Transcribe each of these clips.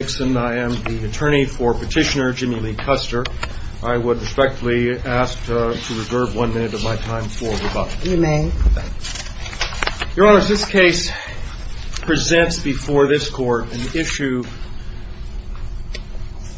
I am the attorney for petitioner Jimmy Lee Custer. I would respectfully ask to reserve one minute of my time for rebuttal. You may. Your Honor, this case presents before this court an issue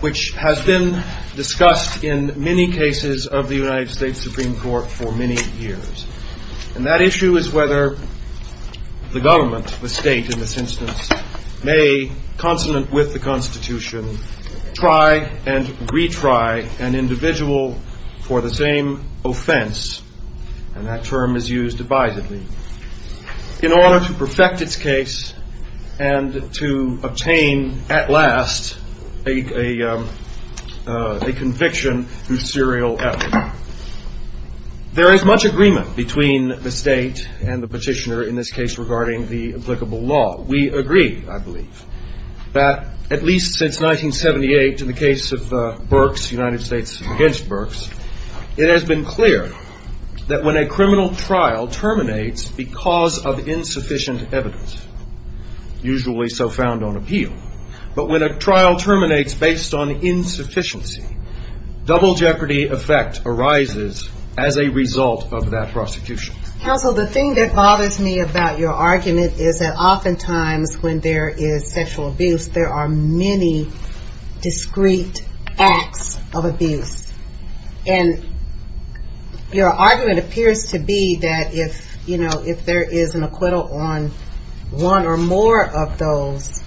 which has been discussed in many cases of the United States Supreme Court for many years. And that issue is whether the government, the state in this instance, may, consonant with the Constitution, try and retry an individual for the same offense, and that term is used divisively, in order to perfect its case and to obtain at last a conviction through serial effort. There is much agreement between the state and the petitioner in this case regarding the applicable law. We agree, I believe, that at least since 1978, in the case of Burks, United States against Burks, it has been clear that when a criminal trial terminates because of insufficient evidence, usually so found on appeal, but when a trial terminates based on insufficiency, double jeopardy effect arises as a result of that prosecution. Counsel, the thing that bothers me about your argument is that oftentimes when there is sexual abuse, there are many discrete acts of abuse. And your argument appears to be that if there is an acquittal on one or more of those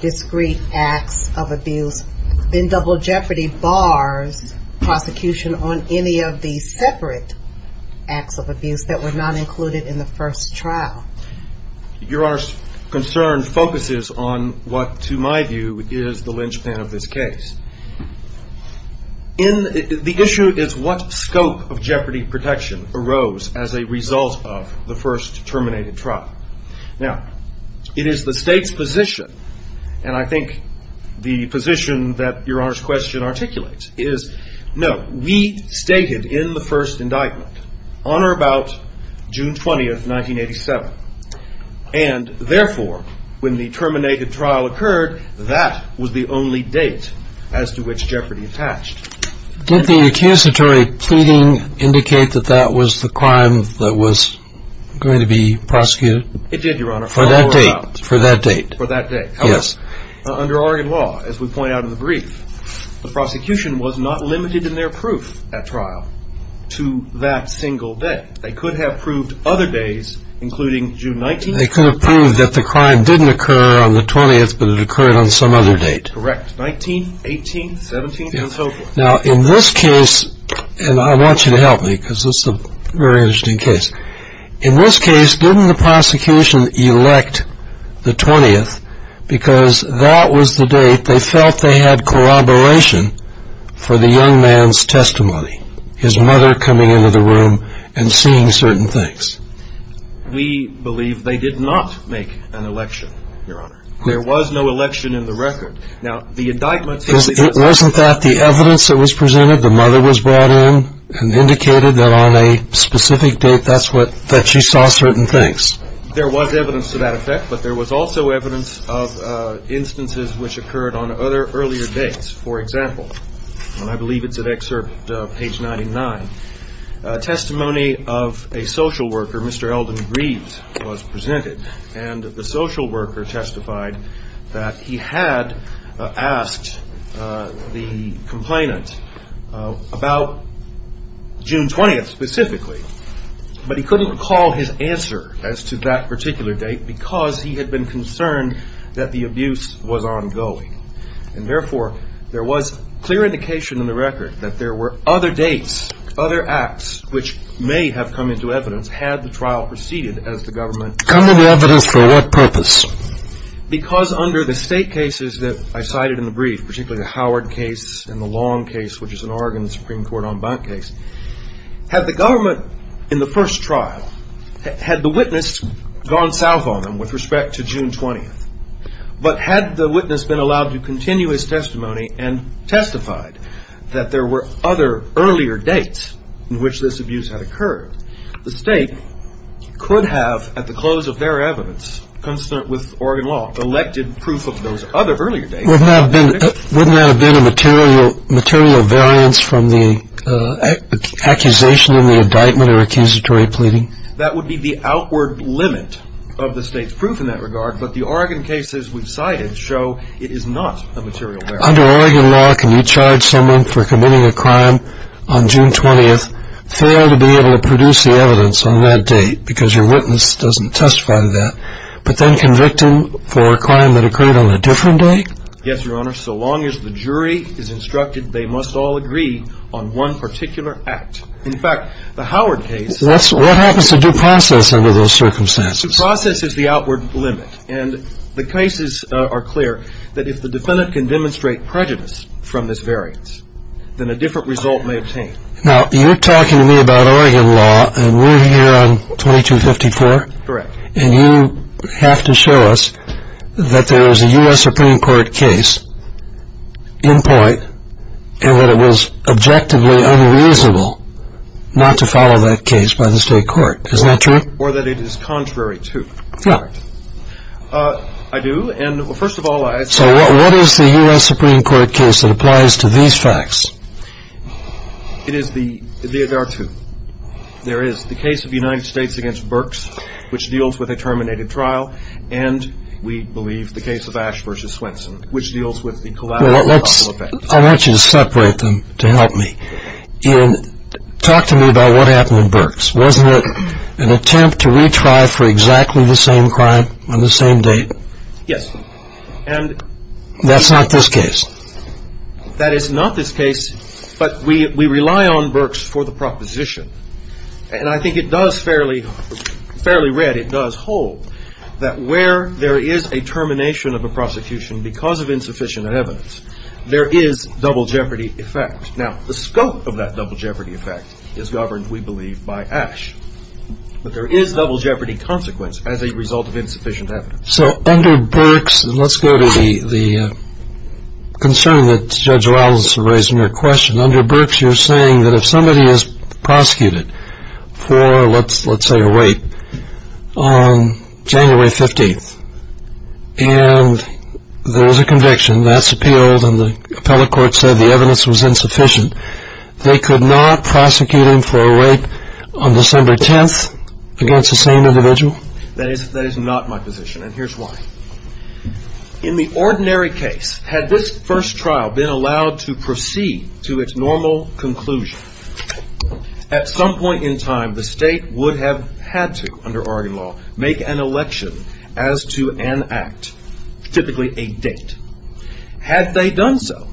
discrete acts of abuse, then double jeopardy bars prosecution on any of the separate acts of abuse that were not included in the first trial. Your Honor's concern focuses on what, to my view, is the linchpin of this case. The issue is what scope of jeopardy protection arose as a result of the first terminated trial. Now, it is the state's position, and I think the position that Your Honor's question articulates, is no, we stated in the first indictment, on or about June 20, 1987. And therefore, when the terminated trial occurred, that was the only date as to which jeopardy attached. Did the accusatory pleading indicate that that was the crime that was going to be prosecuted? It did, Your Honor, for that date. For that date. For that date. Yes. Under Oregon law, as we point out in the brief, the prosecution was not limited in their proof at trial to that single date. They could have proved other days, including June 19. They could have proved that the crime didn't occur on the 20th, but it occurred on some other date. Correct. 19, 18, 17, and so forth. Now, in this case, and I want you to help me, because this is a very interesting case. In this case, didn't the prosecution elect the 20th, because that was the date they felt they had corroboration for the young man's testimony, his mother coming into the room and seeing certain things? We believe they did not make an election, Your Honor. There was no election in the record. Now, the indictment says that. It wasn't that the evidence that was presented, the mother was brought in and indicated that on a specific date that she saw certain things. There was evidence to that effect, but there was also evidence of instances which occurred on other earlier dates. For example, and I believe it's at excerpt page 99, testimony of a social worker, Mr. Eldon Greaves, was presented. And the social worker testified that he had asked the complainant about June 20th specifically, but he couldn't recall his answer as to that particular date, because he had been concerned that the abuse was ongoing. And therefore, there was clear indication in the record that there were other dates, other acts, which may have come into evidence had the trial proceeded as the government. Come into evidence for what purpose? Because under the state cases that I cited in the brief, particularly the Howard case and the Long case, which is an Oregon Supreme Court en banc case, had the government in the first trial, had the witness gone south on them with respect to June 20th, but had the witness been allowed to continue his testimony and testified that there were other earlier dates in which this abuse had occurred, the state could have, at the close of their evidence, consistent with Oregon law, elected proof of those other earlier dates. Wouldn't that have been a material variance from the accusation in the indictment or accusatory pleading? That would be the outward limit of the state's proof in that regard, but the Oregon cases we've cited show it is not a material variance. Under Oregon law, can you charge someone for committing a crime on June 20th, fail to be able to produce the evidence on that date because your witness doesn't testify to that, but then convict him for a crime that occurred on a different date? Yes, Your Honor, so long as the jury is instructed, they must all agree on one particular act. In fact, the Howard case. What happens to due process under those circumstances? Due process is the outward limit, and the cases are clear that if the defendant can demonstrate prejudice from this variance, then a different result may obtain. Now, you're talking to me about Oregon law, and we're here on 2254. Correct. And you have to show us that there is a US Supreme Court case in point, and that it was objectively unreasonable not to follow that case by the state court. Is that true? Or that it is contrary to fact. I do, and first of all, I say that. So what is the US Supreme Court case that applies to these facts? It is the, there are two. There is the case of the United States against Burks, which deals with a terminated trial, and we believe the case of Ash versus Swenson, which deals with the collateral effect. I want you to separate them to help me. Talk to me about what happened with Burks. Wasn't it an attempt to retry for exactly the same crime on the same date? Yes. And that's not this case. That is not this case, but we rely on Burks for the proposition. And I think it does fairly read. It does hold that where there is a termination of a prosecution because of insufficient evidence, there is double jeopardy effect. Now, the scope of that double jeopardy effect is governed, we believe, by Ash. But there is double jeopardy consequence as a result of insufficient evidence. So under Burks, and let's go to the concern that Judge Rollins is raising your question, under Burks you're saying that if somebody is prosecuted for, let's say, a rape on January 15th, and there is a conviction that's appealed, and the appellate court said the evidence was insufficient, they could not prosecute him for a rape on December 10th against the same individual? That is not my position, and here's why. In the ordinary case, had this first trial been allowed to proceed to its normal conclusion, at some point in time, the state would have had to, under Oregon law, make an election as to an act, typically a date. Had they done so,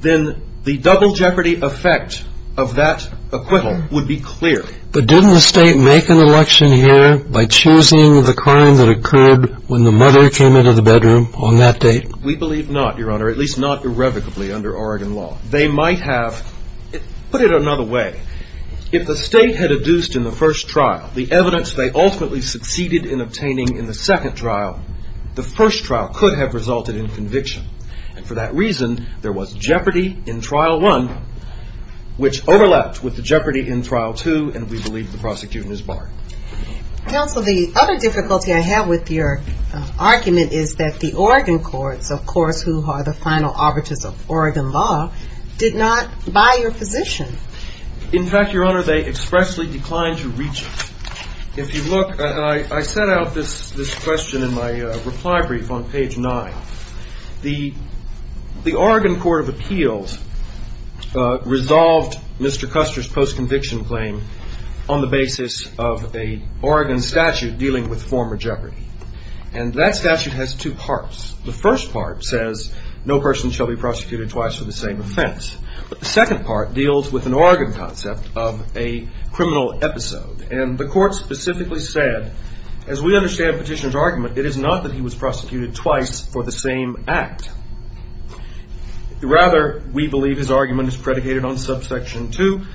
then the double jeopardy effect of that acquittal would be clear. But didn't the state make an election here by choosing the crime that occurred when the mother came into the bedroom on that date? We believe not, Your Honor, at least not irrevocably under Oregon law. They might have, put it another way. If the state had adduced in the first trial the evidence they ultimately succeeded in obtaining in the second trial, the first trial could have resulted in conviction. And for that reason, there was jeopardy in trial one, which overlapped with the jeopardy in trial two, and we believe the prosecution is barred. Counsel, the other difficulty I have with your argument is that the Oregon courts, of course, who are the final arbiters of Oregon law, did not buy your position. In fact, Your Honor, they expressly declined to reach it. If you look, I set out this question in my reply brief on page nine. The Oregon Court of Appeals resolved Mr. Custer's post-conviction claim on the basis of an Oregon statute dealing with former jeopardy. And that statute has two parts. The first part says no person shall be prosecuted twice for the same offense. But the second part deals with an Oregon concept of a criminal episode. And the court specifically said, as we understand Petitioner's argument, it is not that he was prosecuted twice for the same act. Rather, we believe his argument is predicated on subsection two.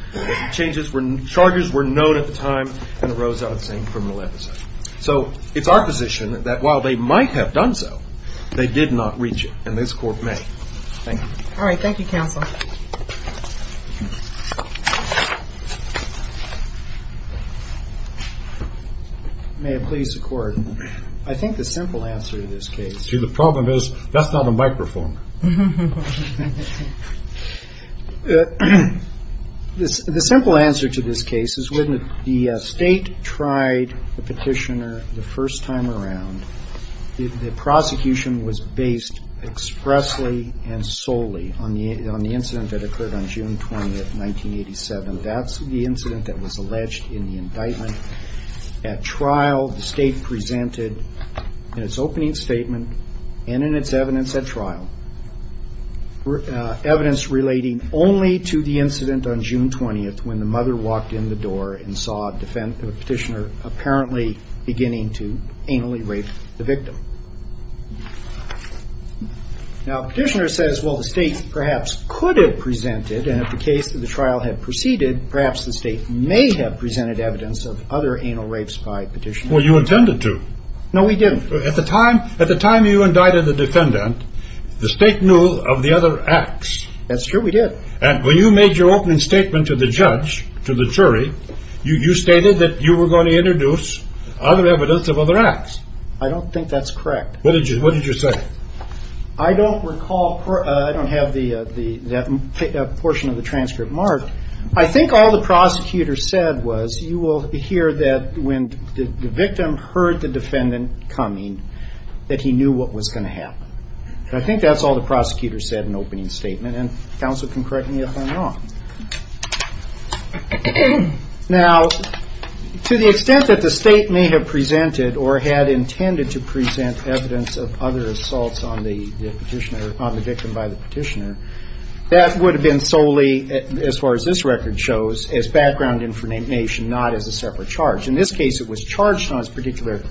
Changes were, charges were known at the time and arose out of the same criminal episode. So it's our position that while they might have done so, they did not reach it. And this court may. Thank you. All right, thank you, counsel. May it please the court. I think the simple answer to this case. See, the problem is, that's not a microphone. The simple answer to this case is when the state tried the petitioner the first time around, the prosecution was based expressly and solely on the incident that occurred on June 20th, 1987. That's the incident that was alleged in the indictment. At trial, the state presented in its opening statement and in its evidence at trial, evidence relating only to the incident on June 20th when the mother walked in the door and saw a petitioner apparently beginning to anally rape the victim. Now, petitioner says, well, the state perhaps could have presented, and if the case of the trial had proceeded, perhaps the state may have presented evidence of other anal rapes by petitioner. Well, you intended to. No, we didn't. At the time you indicted the defendant, the state knew of the other acts. That's true, we did. And when you made your opening statement to the judge, to the jury, you stated that you were going to introduce other evidence of other acts. I don't think that's correct. What did you say? I don't recall, I don't have that portion of the transcript marked. I think all the prosecutor said was, you will hear that when the victim heard the defendant coming, that he knew what was going to happen. And I think that's all the prosecutor said in opening statement. And counsel can correct me if I'm wrong. Now, to the extent that the state may have presented or had intended to present evidence of other assaults on the victim by the petitioner, that would have been solely, as far as this record shows, as background information, not as a separate charge. In this case, it was charged on this particular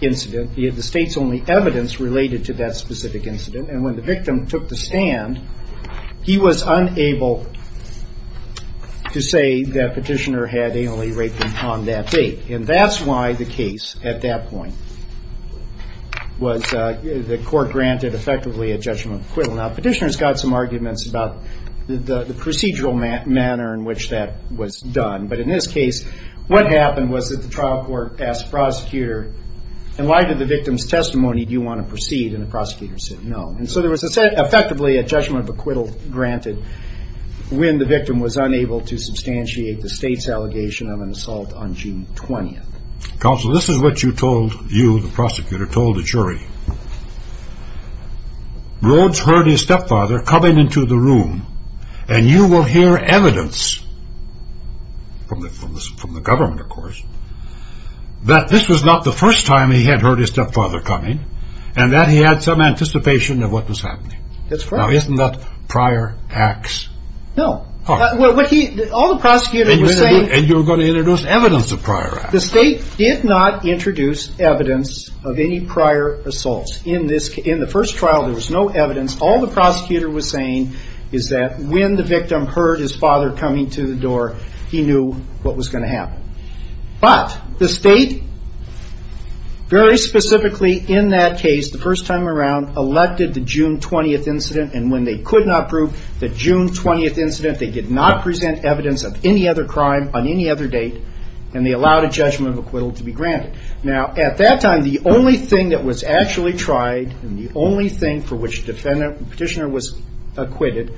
incident, the state's only evidence related to that specific incident. And when the victim took the stand, he was unable to say that petitioner had anally raped him on that date. And that's why the case, at that point, was the court granted effectively a judgment of acquittal. Now, petitioner's got some arguments about the procedural manner in which that was done, but in this case, what happened was that the trial court asked prosecutor, and why did the victim's testimony, do you want to proceed? And the prosecutor said, no. And so there was effectively a judgment of acquittal granted when the victim was unable to substantiate the state's allegation of an assault on June 20th. Counsel, this is what you told, you, the prosecutor, told the jury. Rhodes heard his stepfather coming into the room, and you will hear evidence, from the government, of course, that this was not the first time he had heard his stepfather coming, and that he had some anticipation of what was happening. That's right. Now, isn't that prior acts? No. What he, all the prosecutors were saying- And you're going to introduce evidence of prior acts. The state did not introduce evidence of any prior assaults. In this, in the first trial, there was no evidence. All the prosecutor was saying is that when the victim heard his father coming to the door, he knew what was going to happen. But the state, very specifically in that case, the first time around, elected the June 20th incident. And when they could not prove the June 20th incident, they did not present evidence of any other crime on any other date. And they allowed a judgment of acquittal to be granted. Now, at that time, the only thing that was actually tried, and the only thing for which the petitioner was acquitted,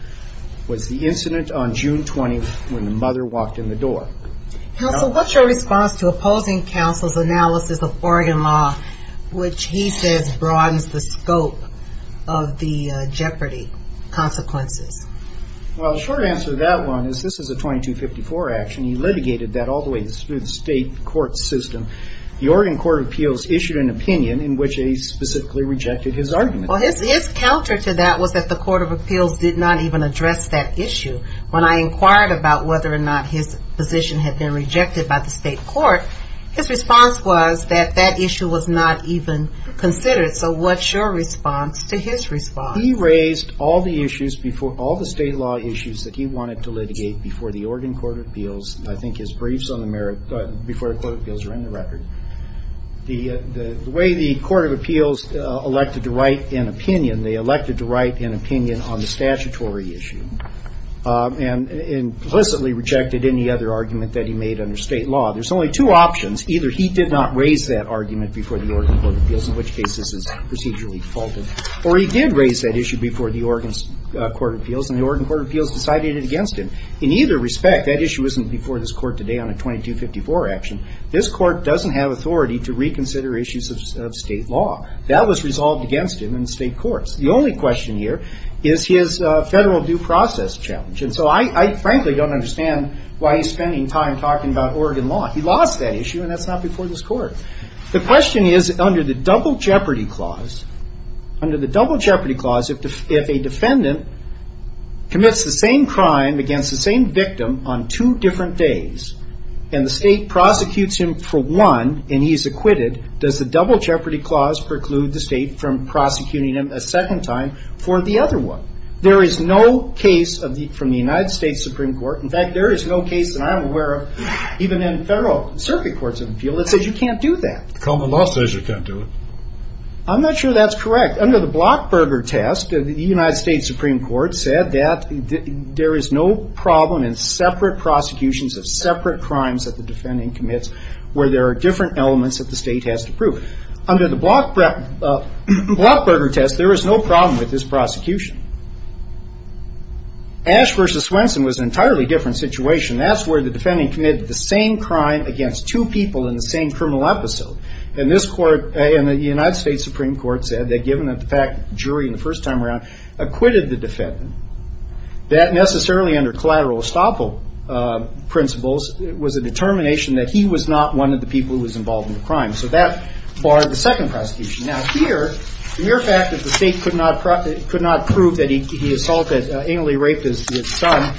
was the incident on June 20th, when the mother walked in the door. Counsel, what's your response to opposing counsel's analysis of Oregon law, which he says broadens the scope of the Jeopardy consequences? Well, the short answer to that one is this is a 2254 action. He litigated that all the way through the state court system. The Oregon Court of Appeals issued an opinion in which they specifically rejected his argument. Well, his counter to that was that the Court of Appeals did not even address that issue. When I inquired about whether or not his position had been rejected by the state court, his response was that that issue was not even considered. So what's your response to his response? He raised all the state law issues that he wanted to litigate before the Oregon Court of Appeals. I think his briefs before the Court of Appeals are in the record. The way the Court of Appeals elected to write an opinion, they elected to write an opinion on the statutory issue. And implicitly rejected any other argument that he made under state law. There's only two options. Either he did not raise that argument before the Oregon Court of Appeals, in which case this is procedurally defaulted. Or he did raise that issue before the Oregon Court of Appeals, and the Oregon Court of Appeals decided it against him. In either respect, that issue isn't before this court today on a 2254 action. This court doesn't have authority to reconsider issues of state law. That was resolved against him in the state courts. The only question here is his federal due process challenge. And so I frankly don't understand why he's spending time talking about He lost that issue, and that's not before this court. The question is, under the double jeopardy clause, under the double jeopardy clause, if a defendant commits the same crime against the same victim on two different days, and the state prosecutes him for one, and he's acquitted, does the double jeopardy clause preclude the state from prosecuting him a second time for the other one? There is no case that I'm aware of, even in federal circuit courts in the field, that says you can't do that. Common law says you can't do it. I'm not sure that's correct. Under the Blockberger test, the United States Supreme Court said that there is no problem in separate prosecutions of separate crimes that the defendant commits, where there are different elements that the state has to prove. Under the Blockberger test, there is no problem with this prosecution. Ashe versus Swenson was an entirely different situation. That's where the defendant committed the same crime against two people in the same criminal episode. And the United States Supreme Court said that given the fact that the jury, in the first time around, acquitted the defendant, that necessarily, under collateral estoppel principles, it was a determination that he was not one of the people who was involved in the crime. So that barred the second prosecution. Now, here, the mere fact that the state could not prove that he assaulted, anally raped his son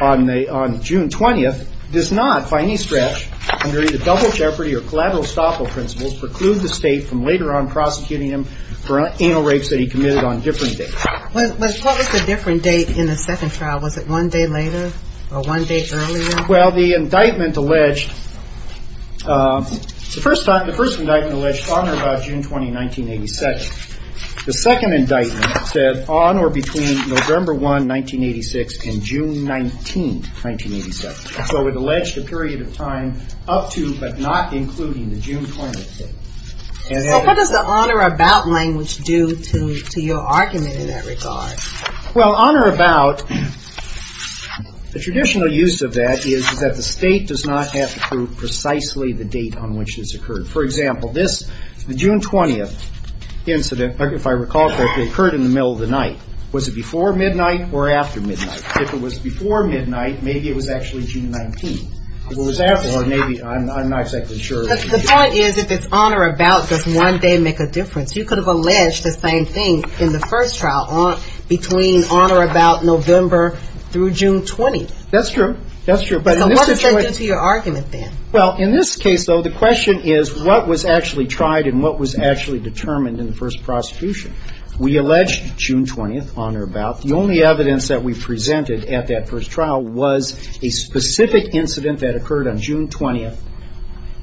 on June 20th, does not, by any stretch, under either double jeopardy or collateral estoppel principles, preclude the state from later on prosecuting him for anal rapes that he committed on different dates. What was the different date in the second trial? Was it one day later or one day earlier? Well, the indictment alleged, it's the first time, the first indictment alleged honor about June 20, 1982. The second indictment said on or between November 1, 1986 and June 19, 1987. So it alleged a period of time up to, but not including, the June 20th date. So what does the honor about language do to your argument in that regard? Well, honor about, the traditional use of that is that the state does not have to prove precisely the date on which this occurred. For example, this, the June 20th incident, if I recall correctly, occurred in the middle of the night. Was it before midnight or after midnight? If it was before midnight, maybe it was actually June 19th. If it was after, maybe, I'm not exactly sure. But the point is, if it's on or about, does one day make a difference? You could have alleged the same thing in the first trial, between on or about November through June 20th. That's true. That's true. So what does that do to your argument then? Well, in this case, though, the question is, what was actually tried and what was actually determined in the first prosecution? We alleged June 20th, on or about. The only evidence that we presented at that first trial was a specific incident that occurred on June 20th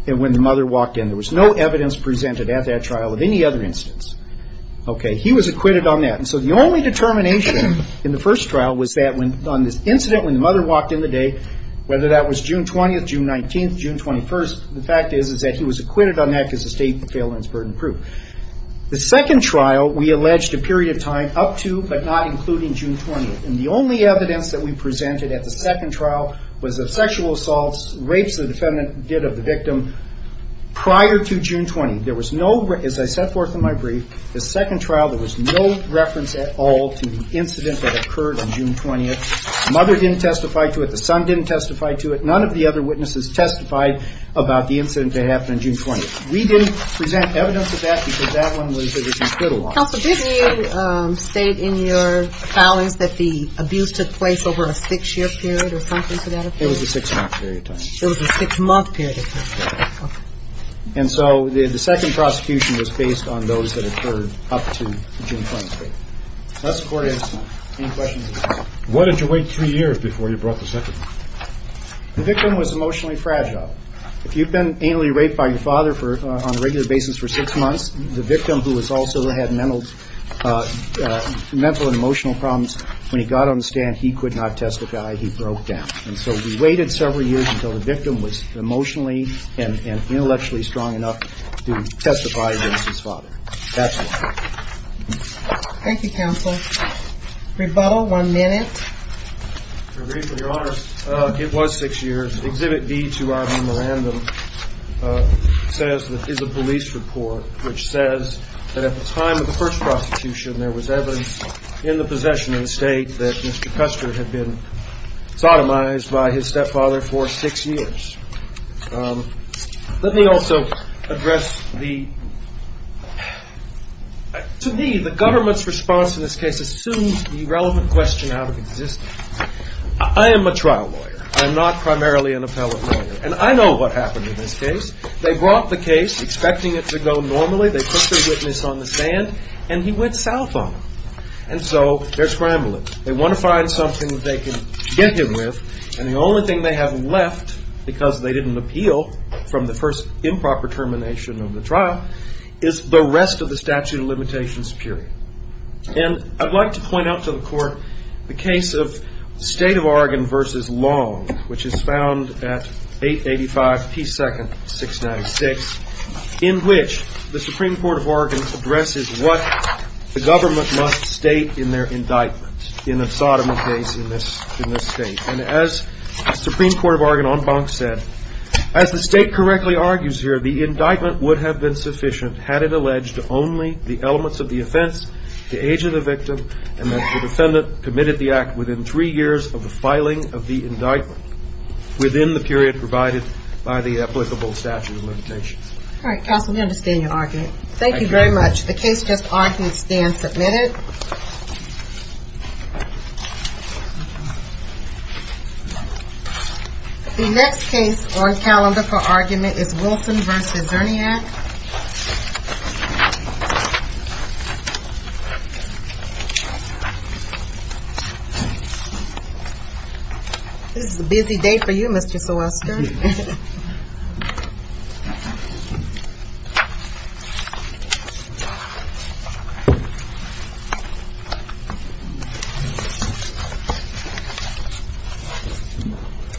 when the mother walked in. There was no evidence presented at that trial of any other instance. Okay, he was acquitted on that. And so the only determination in the first trial was that when, on this incident when the mother walked in the day, whether that was June 20th, June 19th, June 21st, the fact is, is that he was acquitted on that, because the state failed on its burden of proof. The second trial, we alleged a period of time up to, but not including, June 20th. And the only evidence that we presented at the second trial was of sexual assaults, rapes the defendant did of the victim prior to June 20th. There was no, as I set forth in my brief, the second trial, there was no reference at all to the incident that occurred on June 20th. The mother didn't testify to it. The son didn't testify to it. None of the other witnesses testified about the incident that happened on June 20th. We didn't present evidence of that because that one was, it was incredible. Counsel, did you state in your filings that the abuse took place over a six-year period or something for that? It was a six-month period of time. It was a six-month period of time, okay. And so the second prosecution was based on those that occurred up to June 20th. That's the court estimate. Any questions? Why did you wait three years before you brought the second one? The victim was emotionally fragile. If you've been anally raped by your father for, on a regular basis for six months, the victim who has also had mental, mental and emotional problems, when he got on the stand, he could not testify. He broke down. And so we waited several years until the victim was emotionally and intellectually strong enough to testify against his father. That's why. Thank you, counsel. Rebuttal, one minute. Your Honor, it was six years. Exhibit B to our memorandum says, is a police report which says that at the time of the first prosecution, there was evidence in the possession of the state that Mr. Custer had been sodomized by his stepfather for six years. Let me also address the, to me, the government's response in this case assumes the relevant question out of existence. I am a trial lawyer. I'm not primarily an appellate lawyer. And I know what happened in this case. They brought the case, expecting it to go normally. They put the witness on the stand, and he went south on them. And so they're scrambling. They want to find something they can get him with. And the only thing they have left, because they didn't appeal from the first improper termination of the trial, is the rest of the statute of limitations period. And I'd like to point out to the court the case of State of Oregon v. Long, which is found at 885 P. 2nd, 696, in which the Supreme Court of Oregon addresses what the government must state in their indictment in a sodomy case in this state. And as the Supreme Court of Oregon en banc said, as the state correctly argues here, the indictment would have been sufficient had it alleged only the elements of the offense, the age of the victim, and that the defendant committed the act within three years of the filing of the indictment, within the period provided by the applicable statute of limitations. All right, counsel, we understand your argument. Thank you very much. The case just argues stand submitted. The next case on calendar for argument is Wilton v. Zerniak. This is a busy day for you, Mr. Silvester.